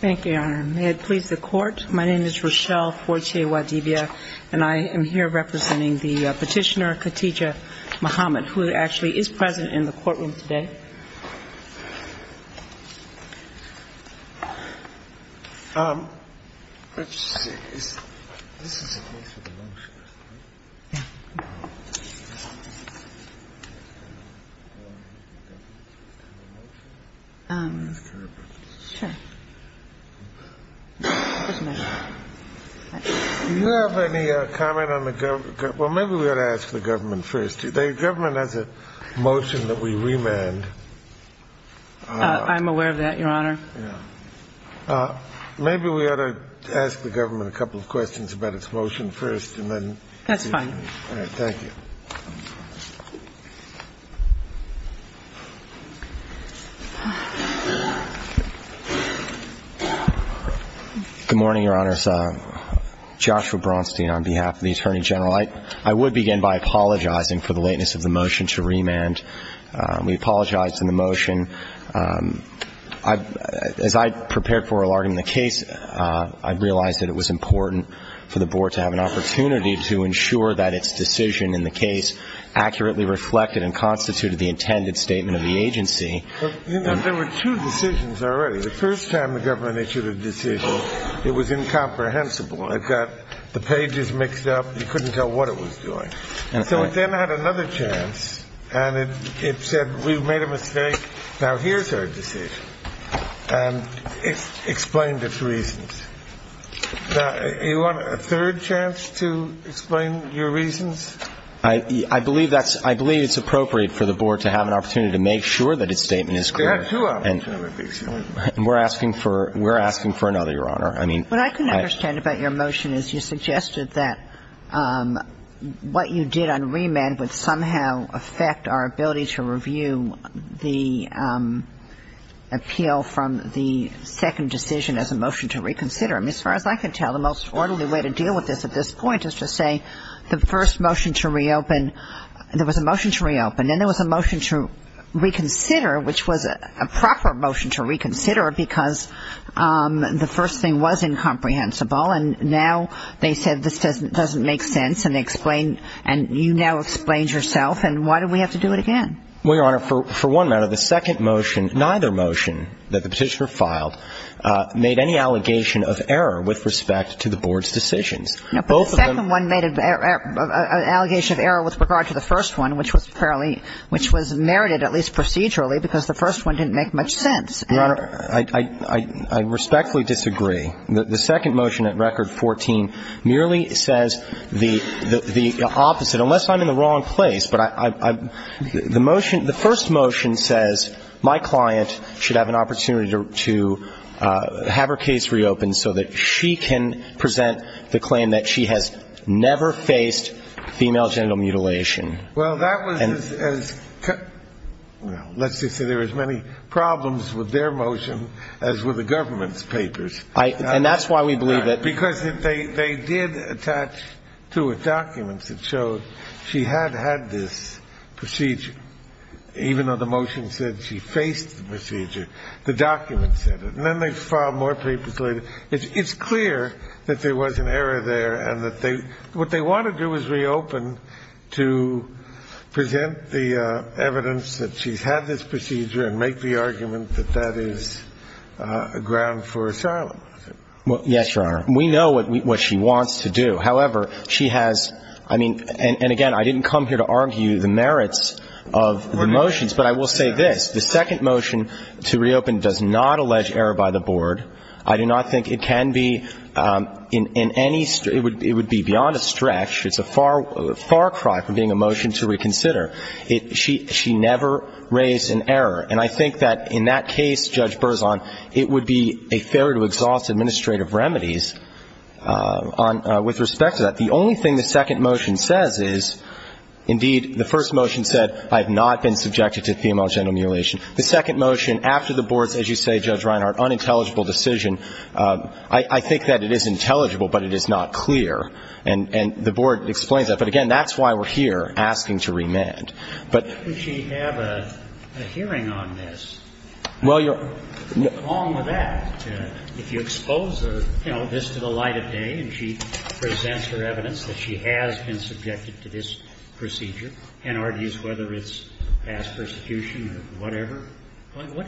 Thank you, Your Honor. May it please the Court, my name is Rochelle Fortier-Wadivia, and I am here representing the Petitioner Khadijah Muhammad, who actually is present in the courtroom today. Do you have any comment on the government? Well, maybe we ought to ask the government first. The government has a motion that we remand. I'm aware of that, Your Honor. Maybe we ought to ask the government a couple of questions about its motion first. That's fine. Good morning, Your Honors. Joshua Braunstein on behalf of the Attorney General. I would begin by apologizing for the lateness of the motion to remand. We apologize for the motion. As I prepared for a larger case, I realized that it was important for the Board to have an opportunity to ensure that its decision in the case accurately reflected and constituted the intended statement of the agency. There were two decisions already. The first time the government issued a decision, it was incomprehensible. It got the pages mixed up. You couldn't tell what it was doing. So it then had another chance, and it said, we've made a mistake, now here's our decision, and explained its reasons. Now, you want a third chance to explain your reasons? I believe that's ‑‑ I believe it's appropriate for the Board to have an opportunity to make sure that its statement is clear. There are two opportunities. And we're asking for another, Your Honor. What I couldn't understand about your motion is you suggested that what you did on remand would somehow affect our ability to review the appeal from the second decision as a motion to reconsider. As far as I can tell, the most orderly way to deal with this at this point is to say the first motion to reopen, there was a motion to reopen, then there was a motion to reconsider, which was a proper motion to reconsider because the first thing was incomprehensible, and now they said this doesn't make sense, and they explained, and you now explained yourself, and why do we have to do it again? Well, Your Honor, for one matter, the second motion, neither motion that the Petitioner filed, made any allegation of error with respect to the Board's decisions. No, but the second one made an allegation of error with regard to the first one, which was fairly ‑‑ which was merited, at least procedurally, because the first one didn't make much sense. Your Honor, I respectfully disagree. The second motion at Record 14 merely says the opposite. Unless I'm in the wrong place, but the motion ‑‑ the first motion says my client should have an opportunity to have her case reopened so that she can present the claim that she has never faced female genital mutilation. Well, that was as ‑‑ let's just say there were as many problems with their motion as with the government's papers. And that's why we believe that ‑‑ Because they did attach to it documents that showed she had had this procedure. Even though the motion said she faced the procedure, the documents said it. And then they filed more papers later. It's clear that there was an error there and that they ‑‑ what they want to do is reopen to present the evidence that she's had this procedure and make the argument that that is a ground for asylum. Yes, Your Honor. We know what she wants to do. However, she has ‑‑ I mean, and again, I didn't come here to argue the merits of the motions. But I will say this. The second motion to reopen does not allege error by the board. I do not think it can be in any ‑‑ it would be beyond a stretch. It's a far cry from being a motion to reconsider. She never raised an error. And I think that in that case, Judge Berzon, it would be a failure to exhaust administrative remedies with respect to that. The only thing the second motion says is, indeed, the first motion said, I have not been subjected to female genital mutilation. The second motion, after the board's, as you say, Judge Reinhart, unintelligible decision, I think that it is intelligible, but it is not clear. And the board explains that. But, again, that's why we're here asking to remand. But ‑‑ Would she have a hearing on this? Well, Your Honor ‑‑ What's wrong with that? If you expose her, you know, this to the light of day and she presents her evidence that she has been subjected to this procedure and argues whether it's past persecution or whatever,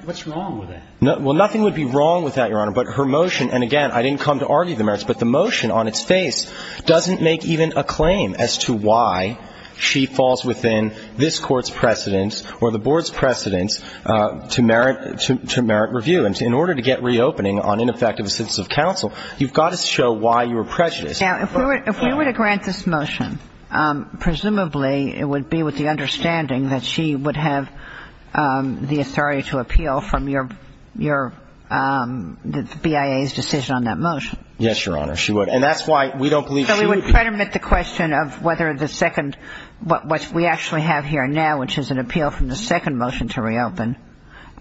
what's wrong with that? Well, nothing would be wrong with that, Your Honor. But her motion, and again, I didn't come to argue the merits, but the motion on its face doesn't make even a claim as to why she falls within this Court's precedence or the board's precedence to merit review. And in order to get reopening on ineffective assistance of counsel, you've got to show why you were prejudiced. Now, if we were to grant this motion, presumably it would be with the understanding that she would have the authority to appeal from your ‑‑ the BIA's decision on that motion. Yes, Your Honor, she would. And that's why we don't believe she would be ‑‑ So we would predominate the question of whether the second ‑‑ what we actually have here now, which is an appeal from the second motion to reopen,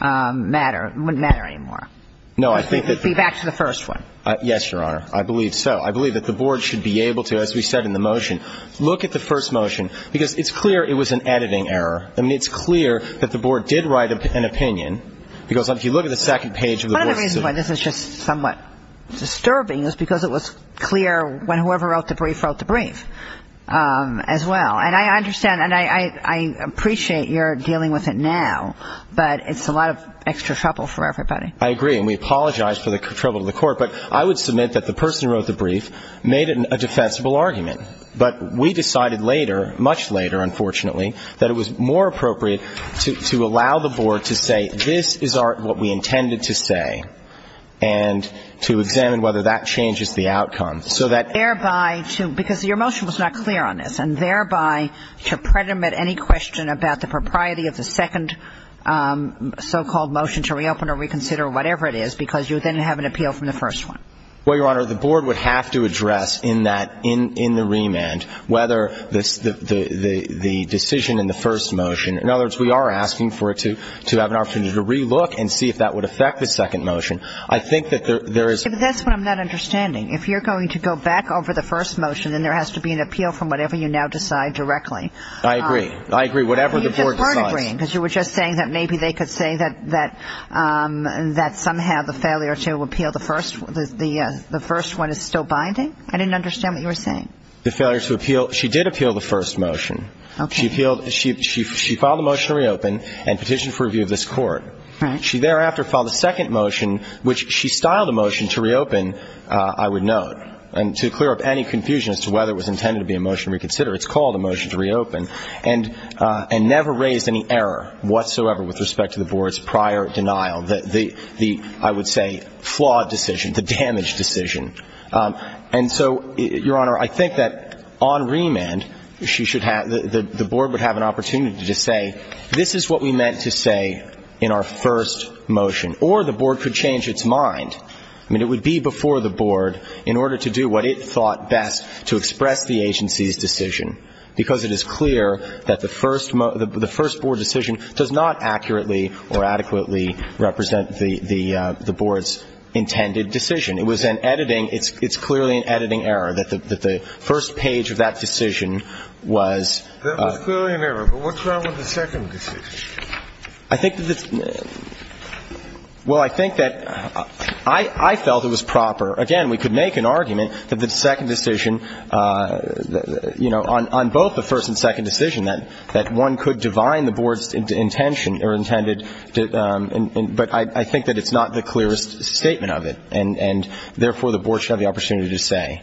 matter ‑‑ wouldn't matter anymore. No, I think that ‑‑ It would be back to the first one. Yes, Your Honor. I believe so. I believe that the board should be able to, as we said in the motion, look at the first motion. Because it's clear it was an editing error. I mean, it's clear that the board did write an opinion. Because if you look at the second page of the board's decision ‑‑ This is just somewhat disturbing. It was because it was clear when whoever wrote the brief wrote the brief as well. And I understand and I appreciate your dealing with it now. But it's a lot of extra trouble for everybody. I agree. And we apologize for the trouble to the court. But I would submit that the person who wrote the brief made a defensible argument. But we decided later, much later, unfortunately, that it was more appropriate to allow the board to say this is what we intended to say and to examine whether that changes the outcome so that ‑‑ Thereby to ‑‑ because your motion was not clear on this. And thereby to predominate any question about the propriety of the second so‑called motion to reopen or reconsider, whatever it is, because you then have an appeal from the first one. Well, Your Honor, the board would have to address in that ‑‑ in the remand whether the decision in the first motion. In other words, we are asking for it to have an opportunity to relook and see if that would affect the second motion. I think that there is ‑‑ That's what I'm not understanding. If you're going to go back over the first motion, then there has to be an appeal from whatever you now decide directly. I agree. I agree. Whatever the board decides. You were just saying that maybe they could say that somehow the failure to appeal the first one is still binding. I didn't understand what you were saying. The failure to appeal. She did appeal the first motion. Okay. She appealed. She filed a motion to reopen and petitioned for review of this court. Right. She thereafter filed a second motion, which she styled a motion to reopen, I would note, and to clear up any confusion as to whether it was intended to be a motion to reconsider. It's called a motion to reopen. And never raised any error whatsoever with respect to the board's prior denial, the, I would say, flawed decision, the damaged decision. And so, Your Honor, I think that on remand, she should have, the board would have an opportunity to say, this is what we meant to say in our first motion. Or the board could change its mind. I mean, it would be before the board in order to do what it thought best to express the agency's decision, because it is clear that the first board decision does not accurately or adequately represent the board's intended decision. It was an editing, it's clearly an editing error that the first page of that decision was. That was clearly an error. But what's wrong with the second decision? I think that the, well, I think that I felt it was proper. Again, we could make an argument that the second decision, you know, on both the first and second decision, that one could divine the board's intention or intended, but I think that it's not the clearest statement of it. And therefore, the board should have the opportunity to say,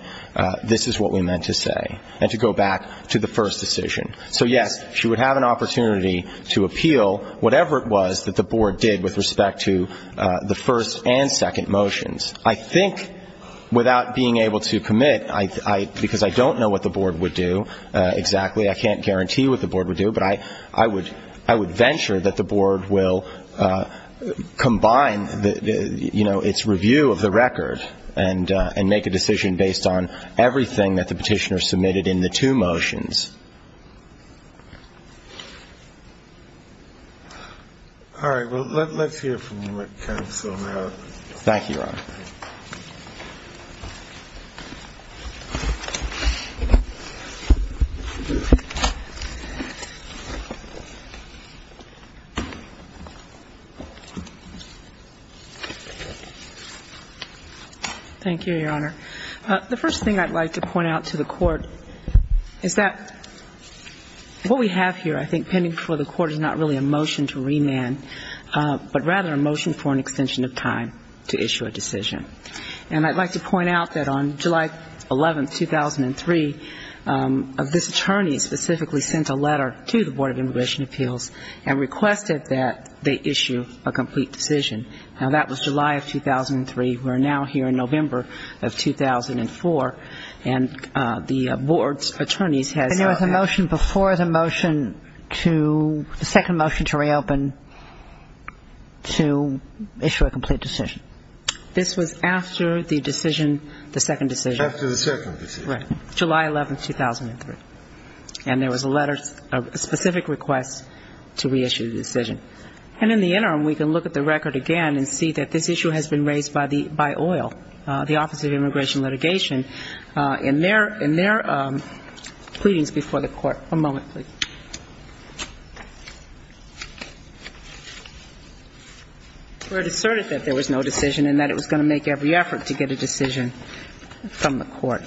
this is what we meant to say, and to go back to the first decision. So, yes, she would have an opportunity to appeal whatever it was that the board did with respect to the first and second motions. I think without being able to commit, because I don't know what the board would do exactly, I can't guarantee what the board would do, but I would venture that the board will combine, you know, its review of the record and make a decision based on everything that the petitioner submitted in the two motions. All right. Well, let's hear from counsel now. Thank you, Your Honor. Thank you, Your Honor. The first thing I'd like to point out to the Court is that what we have here, I think, is not really a motion to remand, but rather a motion for an extension of time to issue a decision. And I'd like to point out that on July 11, 2003, this attorney specifically sent a letter to the Board of Immigration Appeals and requested that they issue a complete decision. Now, that was July of 2003. We're now here in November of 2004, and the board's attorneys has now been able to issue a decision. The second motion to reopen to issue a complete decision. This was after the decision, the second decision. After the second decision. Right. July 11, 2003. And there was a letter, a specific request to reissue the decision. And in the interim, we can look at the record again and see that this issue has been raised by OIL, the Office of Immigration Litigation, in their pleadings before the Court. One moment, please. Where it asserted that there was no decision and that it was going to make every effort to get a decision from the Court.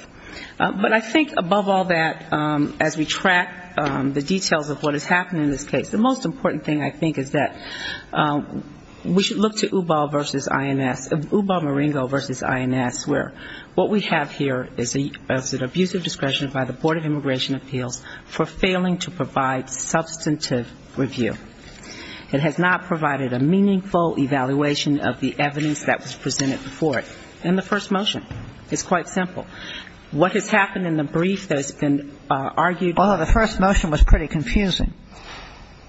But I think above all that, as we track the details of what has happened in this case, the most important thing I think is that we should look to UBAL versus INS, UBAL-Maringo versus INS, where what we have here is an abusive discretion by the Board of Immigration Appeals for failing to provide substantive review. It has not provided a meaningful evaluation of the evidence that was presented before it in the first motion. It's quite simple. What has happened in the brief that has been argued? Well, the first motion was pretty confusing.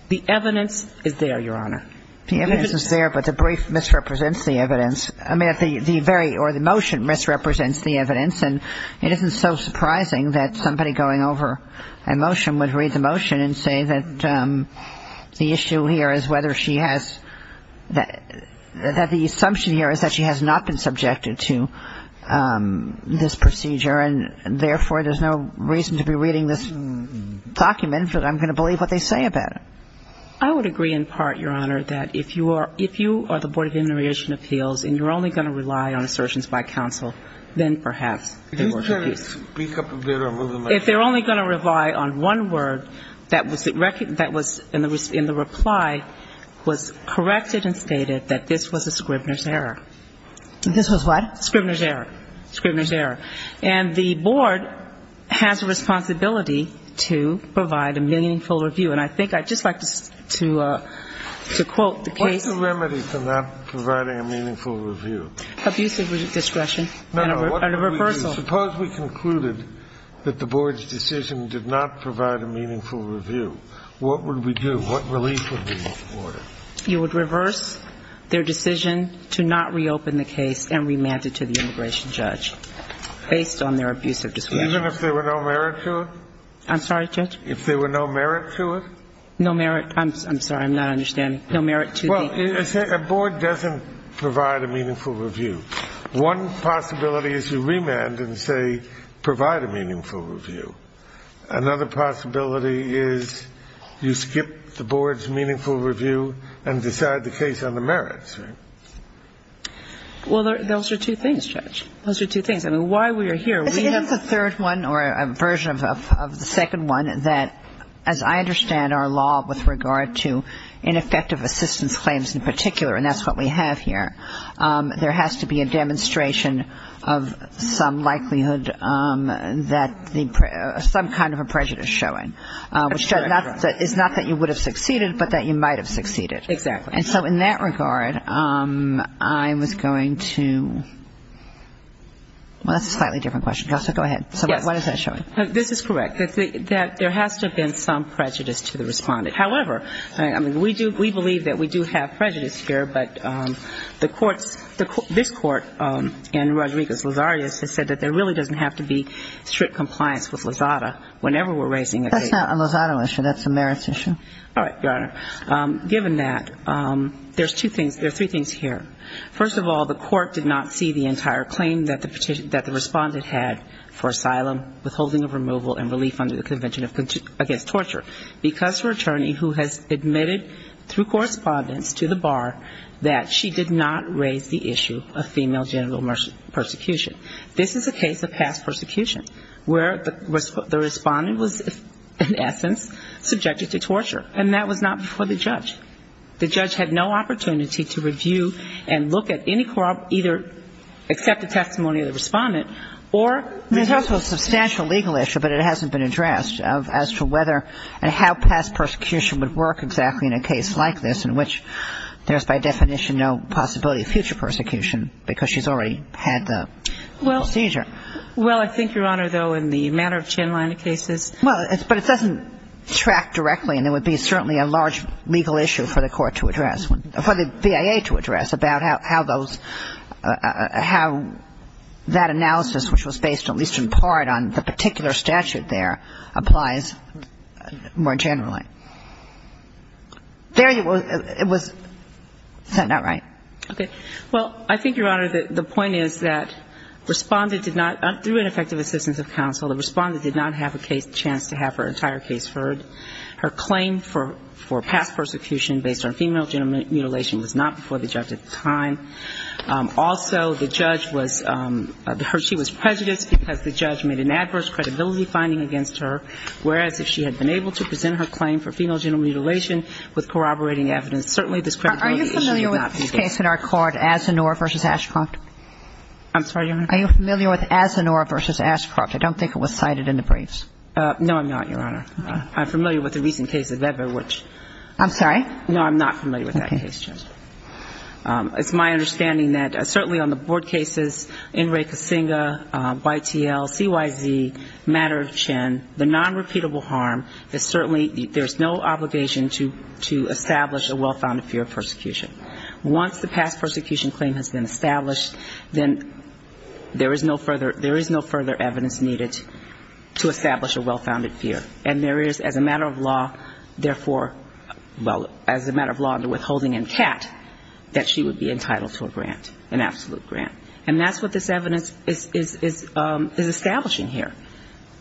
The evidence is there, Your Honor. The evidence is there, but the brief misrepresents the evidence. I mean, the very or the motion misrepresents the evidence. And it isn't so surprising that somebody going over a motion would read the motion and say that the issue here is whether she has that the assumption here is that she has not been subjected to this procedure, and therefore there's no reason to be reading this document because I'm going to believe what they say about it. I would agree in part, Your Honor, that if you are the Board of Immigration Appeals and you're only going to rely on assertions by counsel, then perhaps they were confused. If they're only going to rely on one word that was in the reply was corrected and stated that this was a Scribner's error. This was what? Scribner's error. Scribner's error. And the Board has a responsibility to provide a meaningful review, and I think I'd just like to quote the case. What's the remedy for not providing a meaningful review? Abusive discretion and a reversal. No, no. Suppose we concluded that the Board's decision did not provide a meaningful review. What would we do? What relief would be ordered? You would reverse their decision to not reopen the case and remand it to the immigration judge based on their abusive discretion. Even if there were no merit to it? I'm sorry, Judge? If there were no merit to it? No merit. I'm sorry, I'm not understanding. No merit to the? Well, a Board doesn't provide a meaningful review. One possibility is you remand and say provide a meaningful review. Another possibility is you skip the Board's meaningful review and decide the case on the merits, right? Well, those are two things, Judge. Those are two things. I mean, why we are here? We have a third one or a version of the second one that, as I understand our law with regard to ineffective assistance claims in particular, and that's what we have here, there has to be a demonstration of some likelihood that some kind of a prejudice is showing. It's not that you would have succeeded, but that you might have succeeded. Exactly. And so in that regard, I was going to – well, that's a slightly different question. Go ahead. Yes. So what is that showing? This is correct, that there has to have been some prejudice to the respondent. However, I mean, we do – we believe that we do have prejudice here, but the courts – this court in Rodriguez-Lazarius has said that there really doesn't have to be strict compliance with Lozada whenever we're raising a case. That's not a Lozada issue. That's a merits issue. All right, Your Honor. Given that, there's two things – there are three things here. First of all, the court did not see the entire claim that the respondent had for asylum, withholding of removal, and relief under the Convention Against Torture because her attorney, who has admitted through correspondence to the bar, that she did not raise the issue of female genital persecution. This is a case of past persecution where the respondent was, in essence, subjected to torture, and that was not before the judge. The judge had no opportunity to review and look at any – either accept the testimony of the respondent or – There's also a substantial legal issue, but it hasn't been addressed, as to whether and how past persecution would work exactly in a case like this, in which there's, by definition, no possibility of future persecution because she's already had the procedure. Well, I think, Your Honor, though, in the matter of Chinliner cases – Well, but it doesn't track directly, and it would be certainly a large legal issue for the court to address – for the BIA to address about how those – how that analysis, which was based at least in part on the particular statute there, applies more generally. There it was – is that not right? Okay. Well, I think, Your Honor, the point is that respondent did not – through ineffective assistance of counsel, the respondent did not have a case – chance to have her entire case heard. Her claim for past persecution based on female genital mutilation was not before the judge at the time. Also, the judge was – she was prejudiced because the judge made an adverse credibility finding against her, whereas if she had been able to present her claim for female genital mutilation with corroborating evidence, certainly this credibility issue would not be there. Are you familiar with this case in our court, Asinor v. Ashcroft? I'm sorry, Your Honor? Are you familiar with Asinor v. Ashcroft? I don't think it was cited in the briefs. No, I'm not, Your Honor. Okay. I'm familiar with the recent case of Eber, which – I'm sorry? No, I'm not familiar with that case, Chen. Okay. It's my understanding that certainly on the board cases, NREI-Casinga, YTL, CYZ, matter of Chen, the nonrepeatable harm is certainly – there's no obligation to establish a well-founded fear of persecution. Once the past persecution claim has been established, then there is no further – there is no further evidence needed to establish a well-founded fear. And there is, as a matter of law, therefore – well, as a matter of law under withholding and CAT, that she would be entitled to a grant, an absolute grant. And that's what this evidence is establishing here.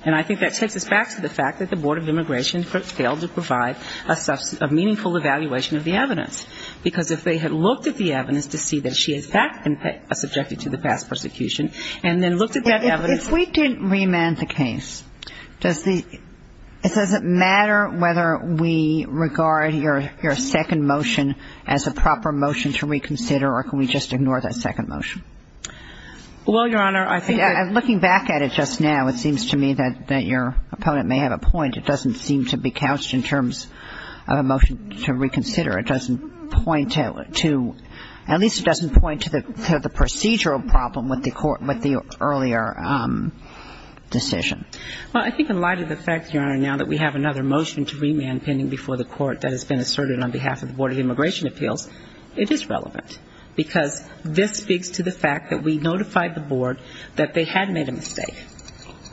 And I think that takes us back to the fact that the Board of Immigration failed to provide a meaningful evaluation of the evidence. Because if they had looked at the evidence to see that she is subject to the past persecution and then looked at that evidence – If we didn't remand the case, does the – does it matter whether we regard your second motion as a proper motion to reconsider or can we just ignore that second motion? Well, Your Honor, I think that – Looking back at it just now, it seems to me that your opponent may have a point. It doesn't seem to be couched in terms of a motion to reconsider. It doesn't point to – at least it doesn't point to the procedural problem with the earlier decision. Well, I think in light of the fact, Your Honor, now that we have another motion to remand pending before the Court that has been asserted on behalf of the Board of Immigration Appeals, it is relevant because this speaks to the fact that we notified the Board that they had made a mistake.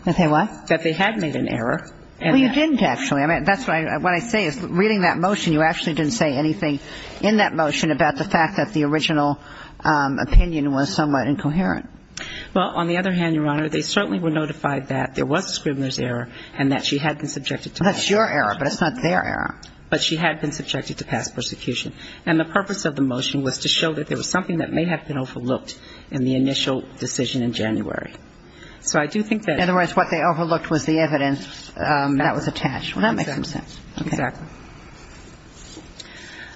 That they what? That they had made an error. Well, you didn't actually. I mean, that's what I – what I say is reading that motion, you actually didn't say anything in that motion about the fact that the original opinion was somewhat incoherent. Well, on the other hand, Your Honor, they certainly were notified that there was a scribbler's error and that she had been subjected to past persecution. That's your error, but it's not their error. But she had been subjected to past persecution. And the purpose of the motion was to show that there was something that may have been overlooked in the initial decision in January. So I do think that – In other words, what they overlooked was the evidence that was attached. Well, that makes some sense. Exactly.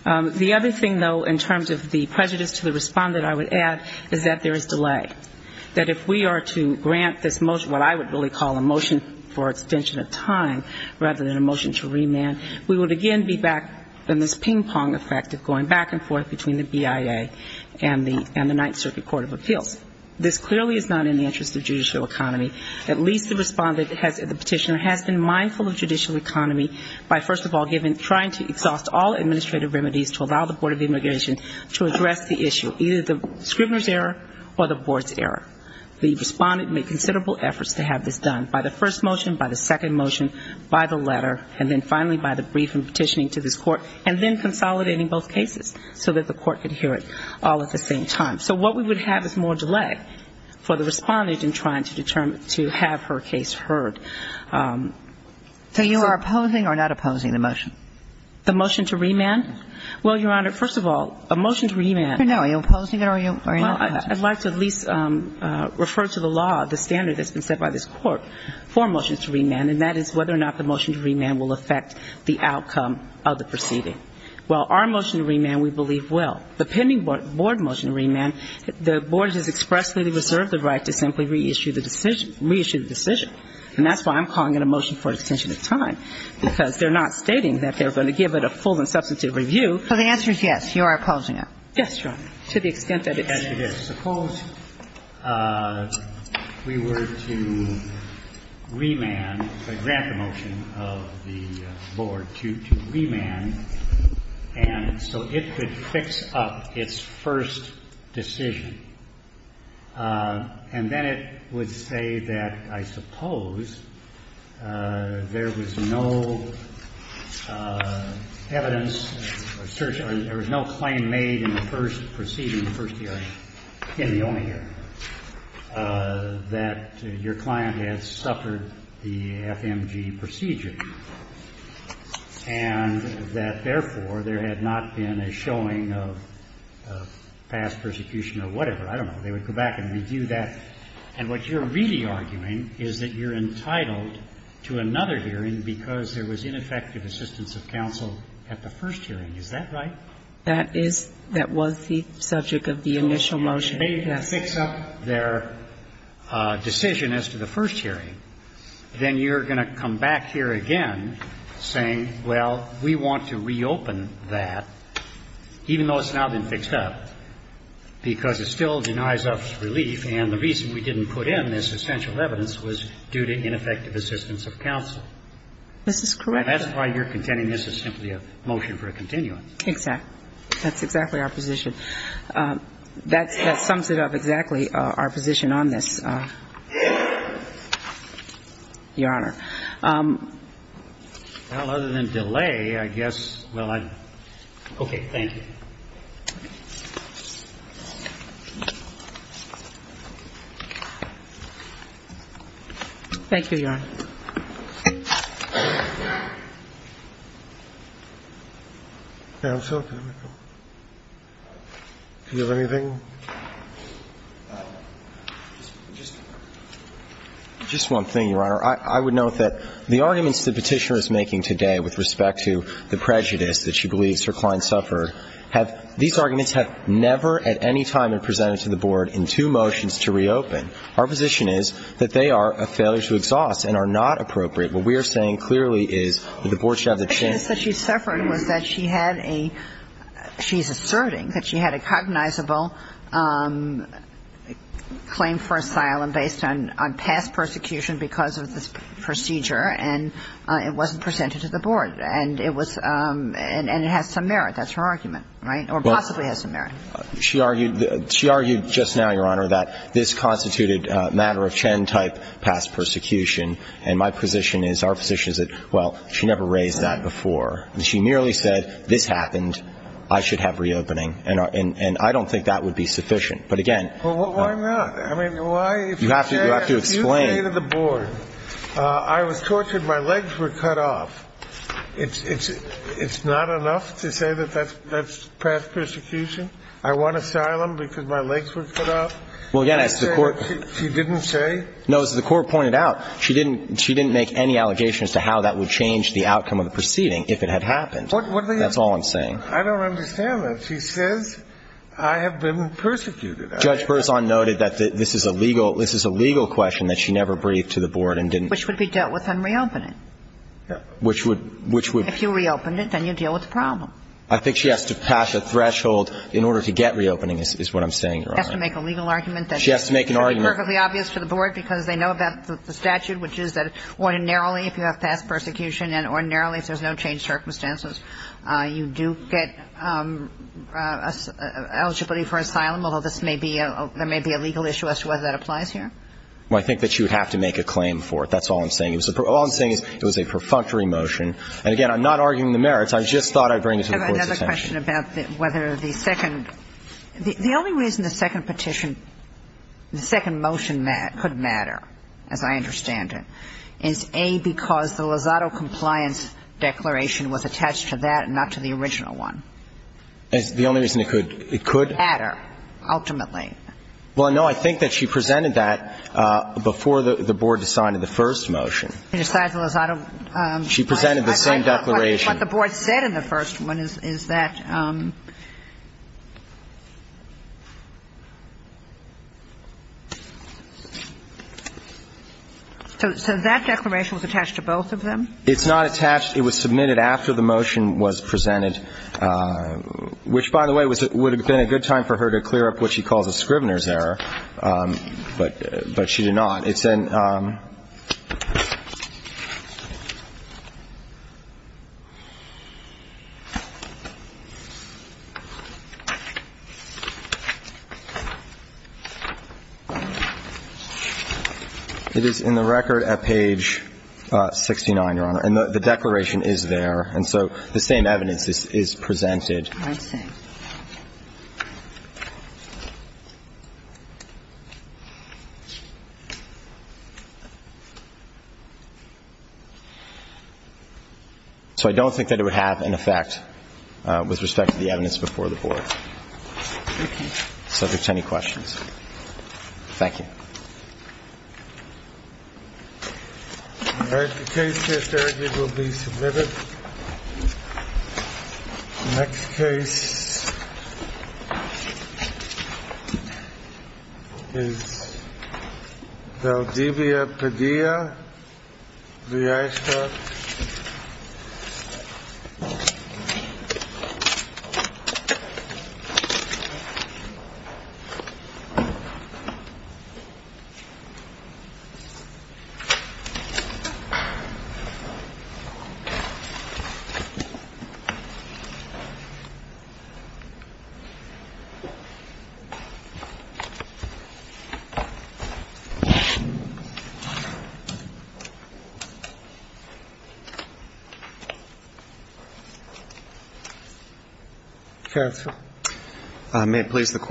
The other thing, though, in terms of the prejudice to the respondent, I would add, is that there is delay. That if we are to grant this motion, what I would really call a motion for extension of time rather than a motion to remand, we would again be back in this ping-pong effect of going back and forth between the BIA and the Ninth Circuit Court of Appeals. This clearly is not in the interest of judicial economy. At least the respondent, the petitioner, has been mindful of judicial economy by, first of all, trying to exhaust all administrative remedies to allow the Board of Immigration to address the issue, either the scribbler's error or the Board's error. The respondent made considerable efforts to have this done by the first motion, by the second motion, by the letter, and then finally by the brief and petitioning to this Court, and then consolidating both cases so that the Court could hear it all at the same time. So what we would have is more delay for the respondent in trying to determine, to have her case heard. So you are opposing or not opposing the motion? The motion to remand? Well, Your Honor, first of all, a motion to remand. Are you opposing it or are you not? Well, I'd like to at least refer to the law, the standard that's been set by this Court for a motion to remand, and that is whether or not the motion to remand will affect the outcome of the proceeding. Well, our motion to remand we believe will. The pending Board motion to remand, the Board has expressly reserved the right to simply reissue the decision. And that's why I'm calling it a motion for extension of time, because they're not stating that they're going to give it a full and substantive review. So the answer is yes, you are opposing it? Yes, Your Honor, to the extent that it's used. Let me ask you this. Suppose we were to remand, grant the motion of the Board to remand, and so it could fix up its first decision. And then it would say that I suppose there was no evidence or search or there was no claim made in the first proceeding, the first hearing, in the only hearing, that your client has suffered the FMG procedure, and that, therefore, there had not been a showing of past persecution or whatever. I don't know. They would go back and review that. And what you're really arguing is that you're entitled to another hearing because there was ineffective assistance of counsel at the first hearing. Is that right? That is the subject of the initial motion. And if they can't fix up their decision as to the first hearing, then you're going to come back here again saying, well, we want to reopen that, even though it's now been fixed up, because it still denies us relief, and the reason we didn't put in this essential evidence was due to ineffective assistance of counsel. This is correct. And that's why you're contending this is simply a motion for a continuum. Exactly. That's exactly our position. That sums it up exactly, our position on this, Your Honor. Well, other than delay, I guess, well, I'm okay. Thank you. Thank you, Your Honor. Counsel, do you have anything? Just one thing, Your Honor. I would note that the arguments the Petitioner is making today with respect to the prejudice that she believes her clients suffered, these arguments have never at any time been presented to the Board in two motions to reopen. Our position is that they are a failure to exhaust and are not appropriate. What we are saying clearly is that the Board should have the chance. The prejudice that she suffered was that she had a – she's asserting that she had a cognizable claim for asylum based on past persecution because of this procedure and it wasn't presented to the Board, and it was – and it has some merit. That's her argument, right? Or possibly has some merit. She argued – she argued just now, Your Honor, that this constituted a matter of Chen-type past persecution, and my position is, our position is that, well, she never raised that before. She merely said this happened, I should have reopening, and I don't think that would be sufficient. But again – Well, why not? I mean, why – You have to explain. If you say to the Board, I was tortured, my legs were cut off, it's not enough to say that that's past persecution. I want asylum because my legs were cut off. She didn't say? No, as the Court pointed out, she didn't make any allegations to how that would change the outcome of the proceeding if it had happened. That's all I'm saying. I don't understand that. She says I have been persecuted. Judge Berzon noted that this is a legal – this is a legal question that she never briefed to the Board and didn't – Which would be dealt with on reopening. Which would – If you reopened it, then you deal with the problem. I think she has to pass a threshold in order to get reopening is what I'm saying, Your Honor. She has to make a legal argument that – She has to make an argument – It would be perfectly obvious to the Board because they know about the statute, which is that ordinarily if you have past persecution and ordinarily if there's no changed circumstances, you do get eligibility for asylum, although this may be – there may be a legal issue as to whether that applies here. Well, I think that she would have to make a claim for it. That's all I'm saying. All I'm saying is it was a perfunctory motion. And again, I'm not arguing the merits. I just thought I'd bring this to the Board's attention. I have another question about whether the second – the only reason the second petition – the second motion could matter, as I understand it, is, A, because the Lozado compliance declaration was attached to that and not to the original one. The only reason it could – it could – Matter, ultimately. Well, no, I think that she presented that before the Board decided the first motion. Decided the Lozado – She presented the same declaration. What the Board said in the first one is that – so that declaration was attached to both of them? It's not attached. It was submitted after the motion was presented, which, by the way, would have been a good time for her to clear up what she calls a Scrivener's error. But she did not. It's in – it is in the record at page 69, Your Honor. And the declaration is there. And so the same evidence is presented. I see. So I don't think that it would have an effect with respect to the evidence before the Board. Thank you. So if there's any questions. Thank you. All right. The case case argument will be submitted. The next case is the one that I'm going to present. This is Valdivia Padilla. Do I start? May it please the Court.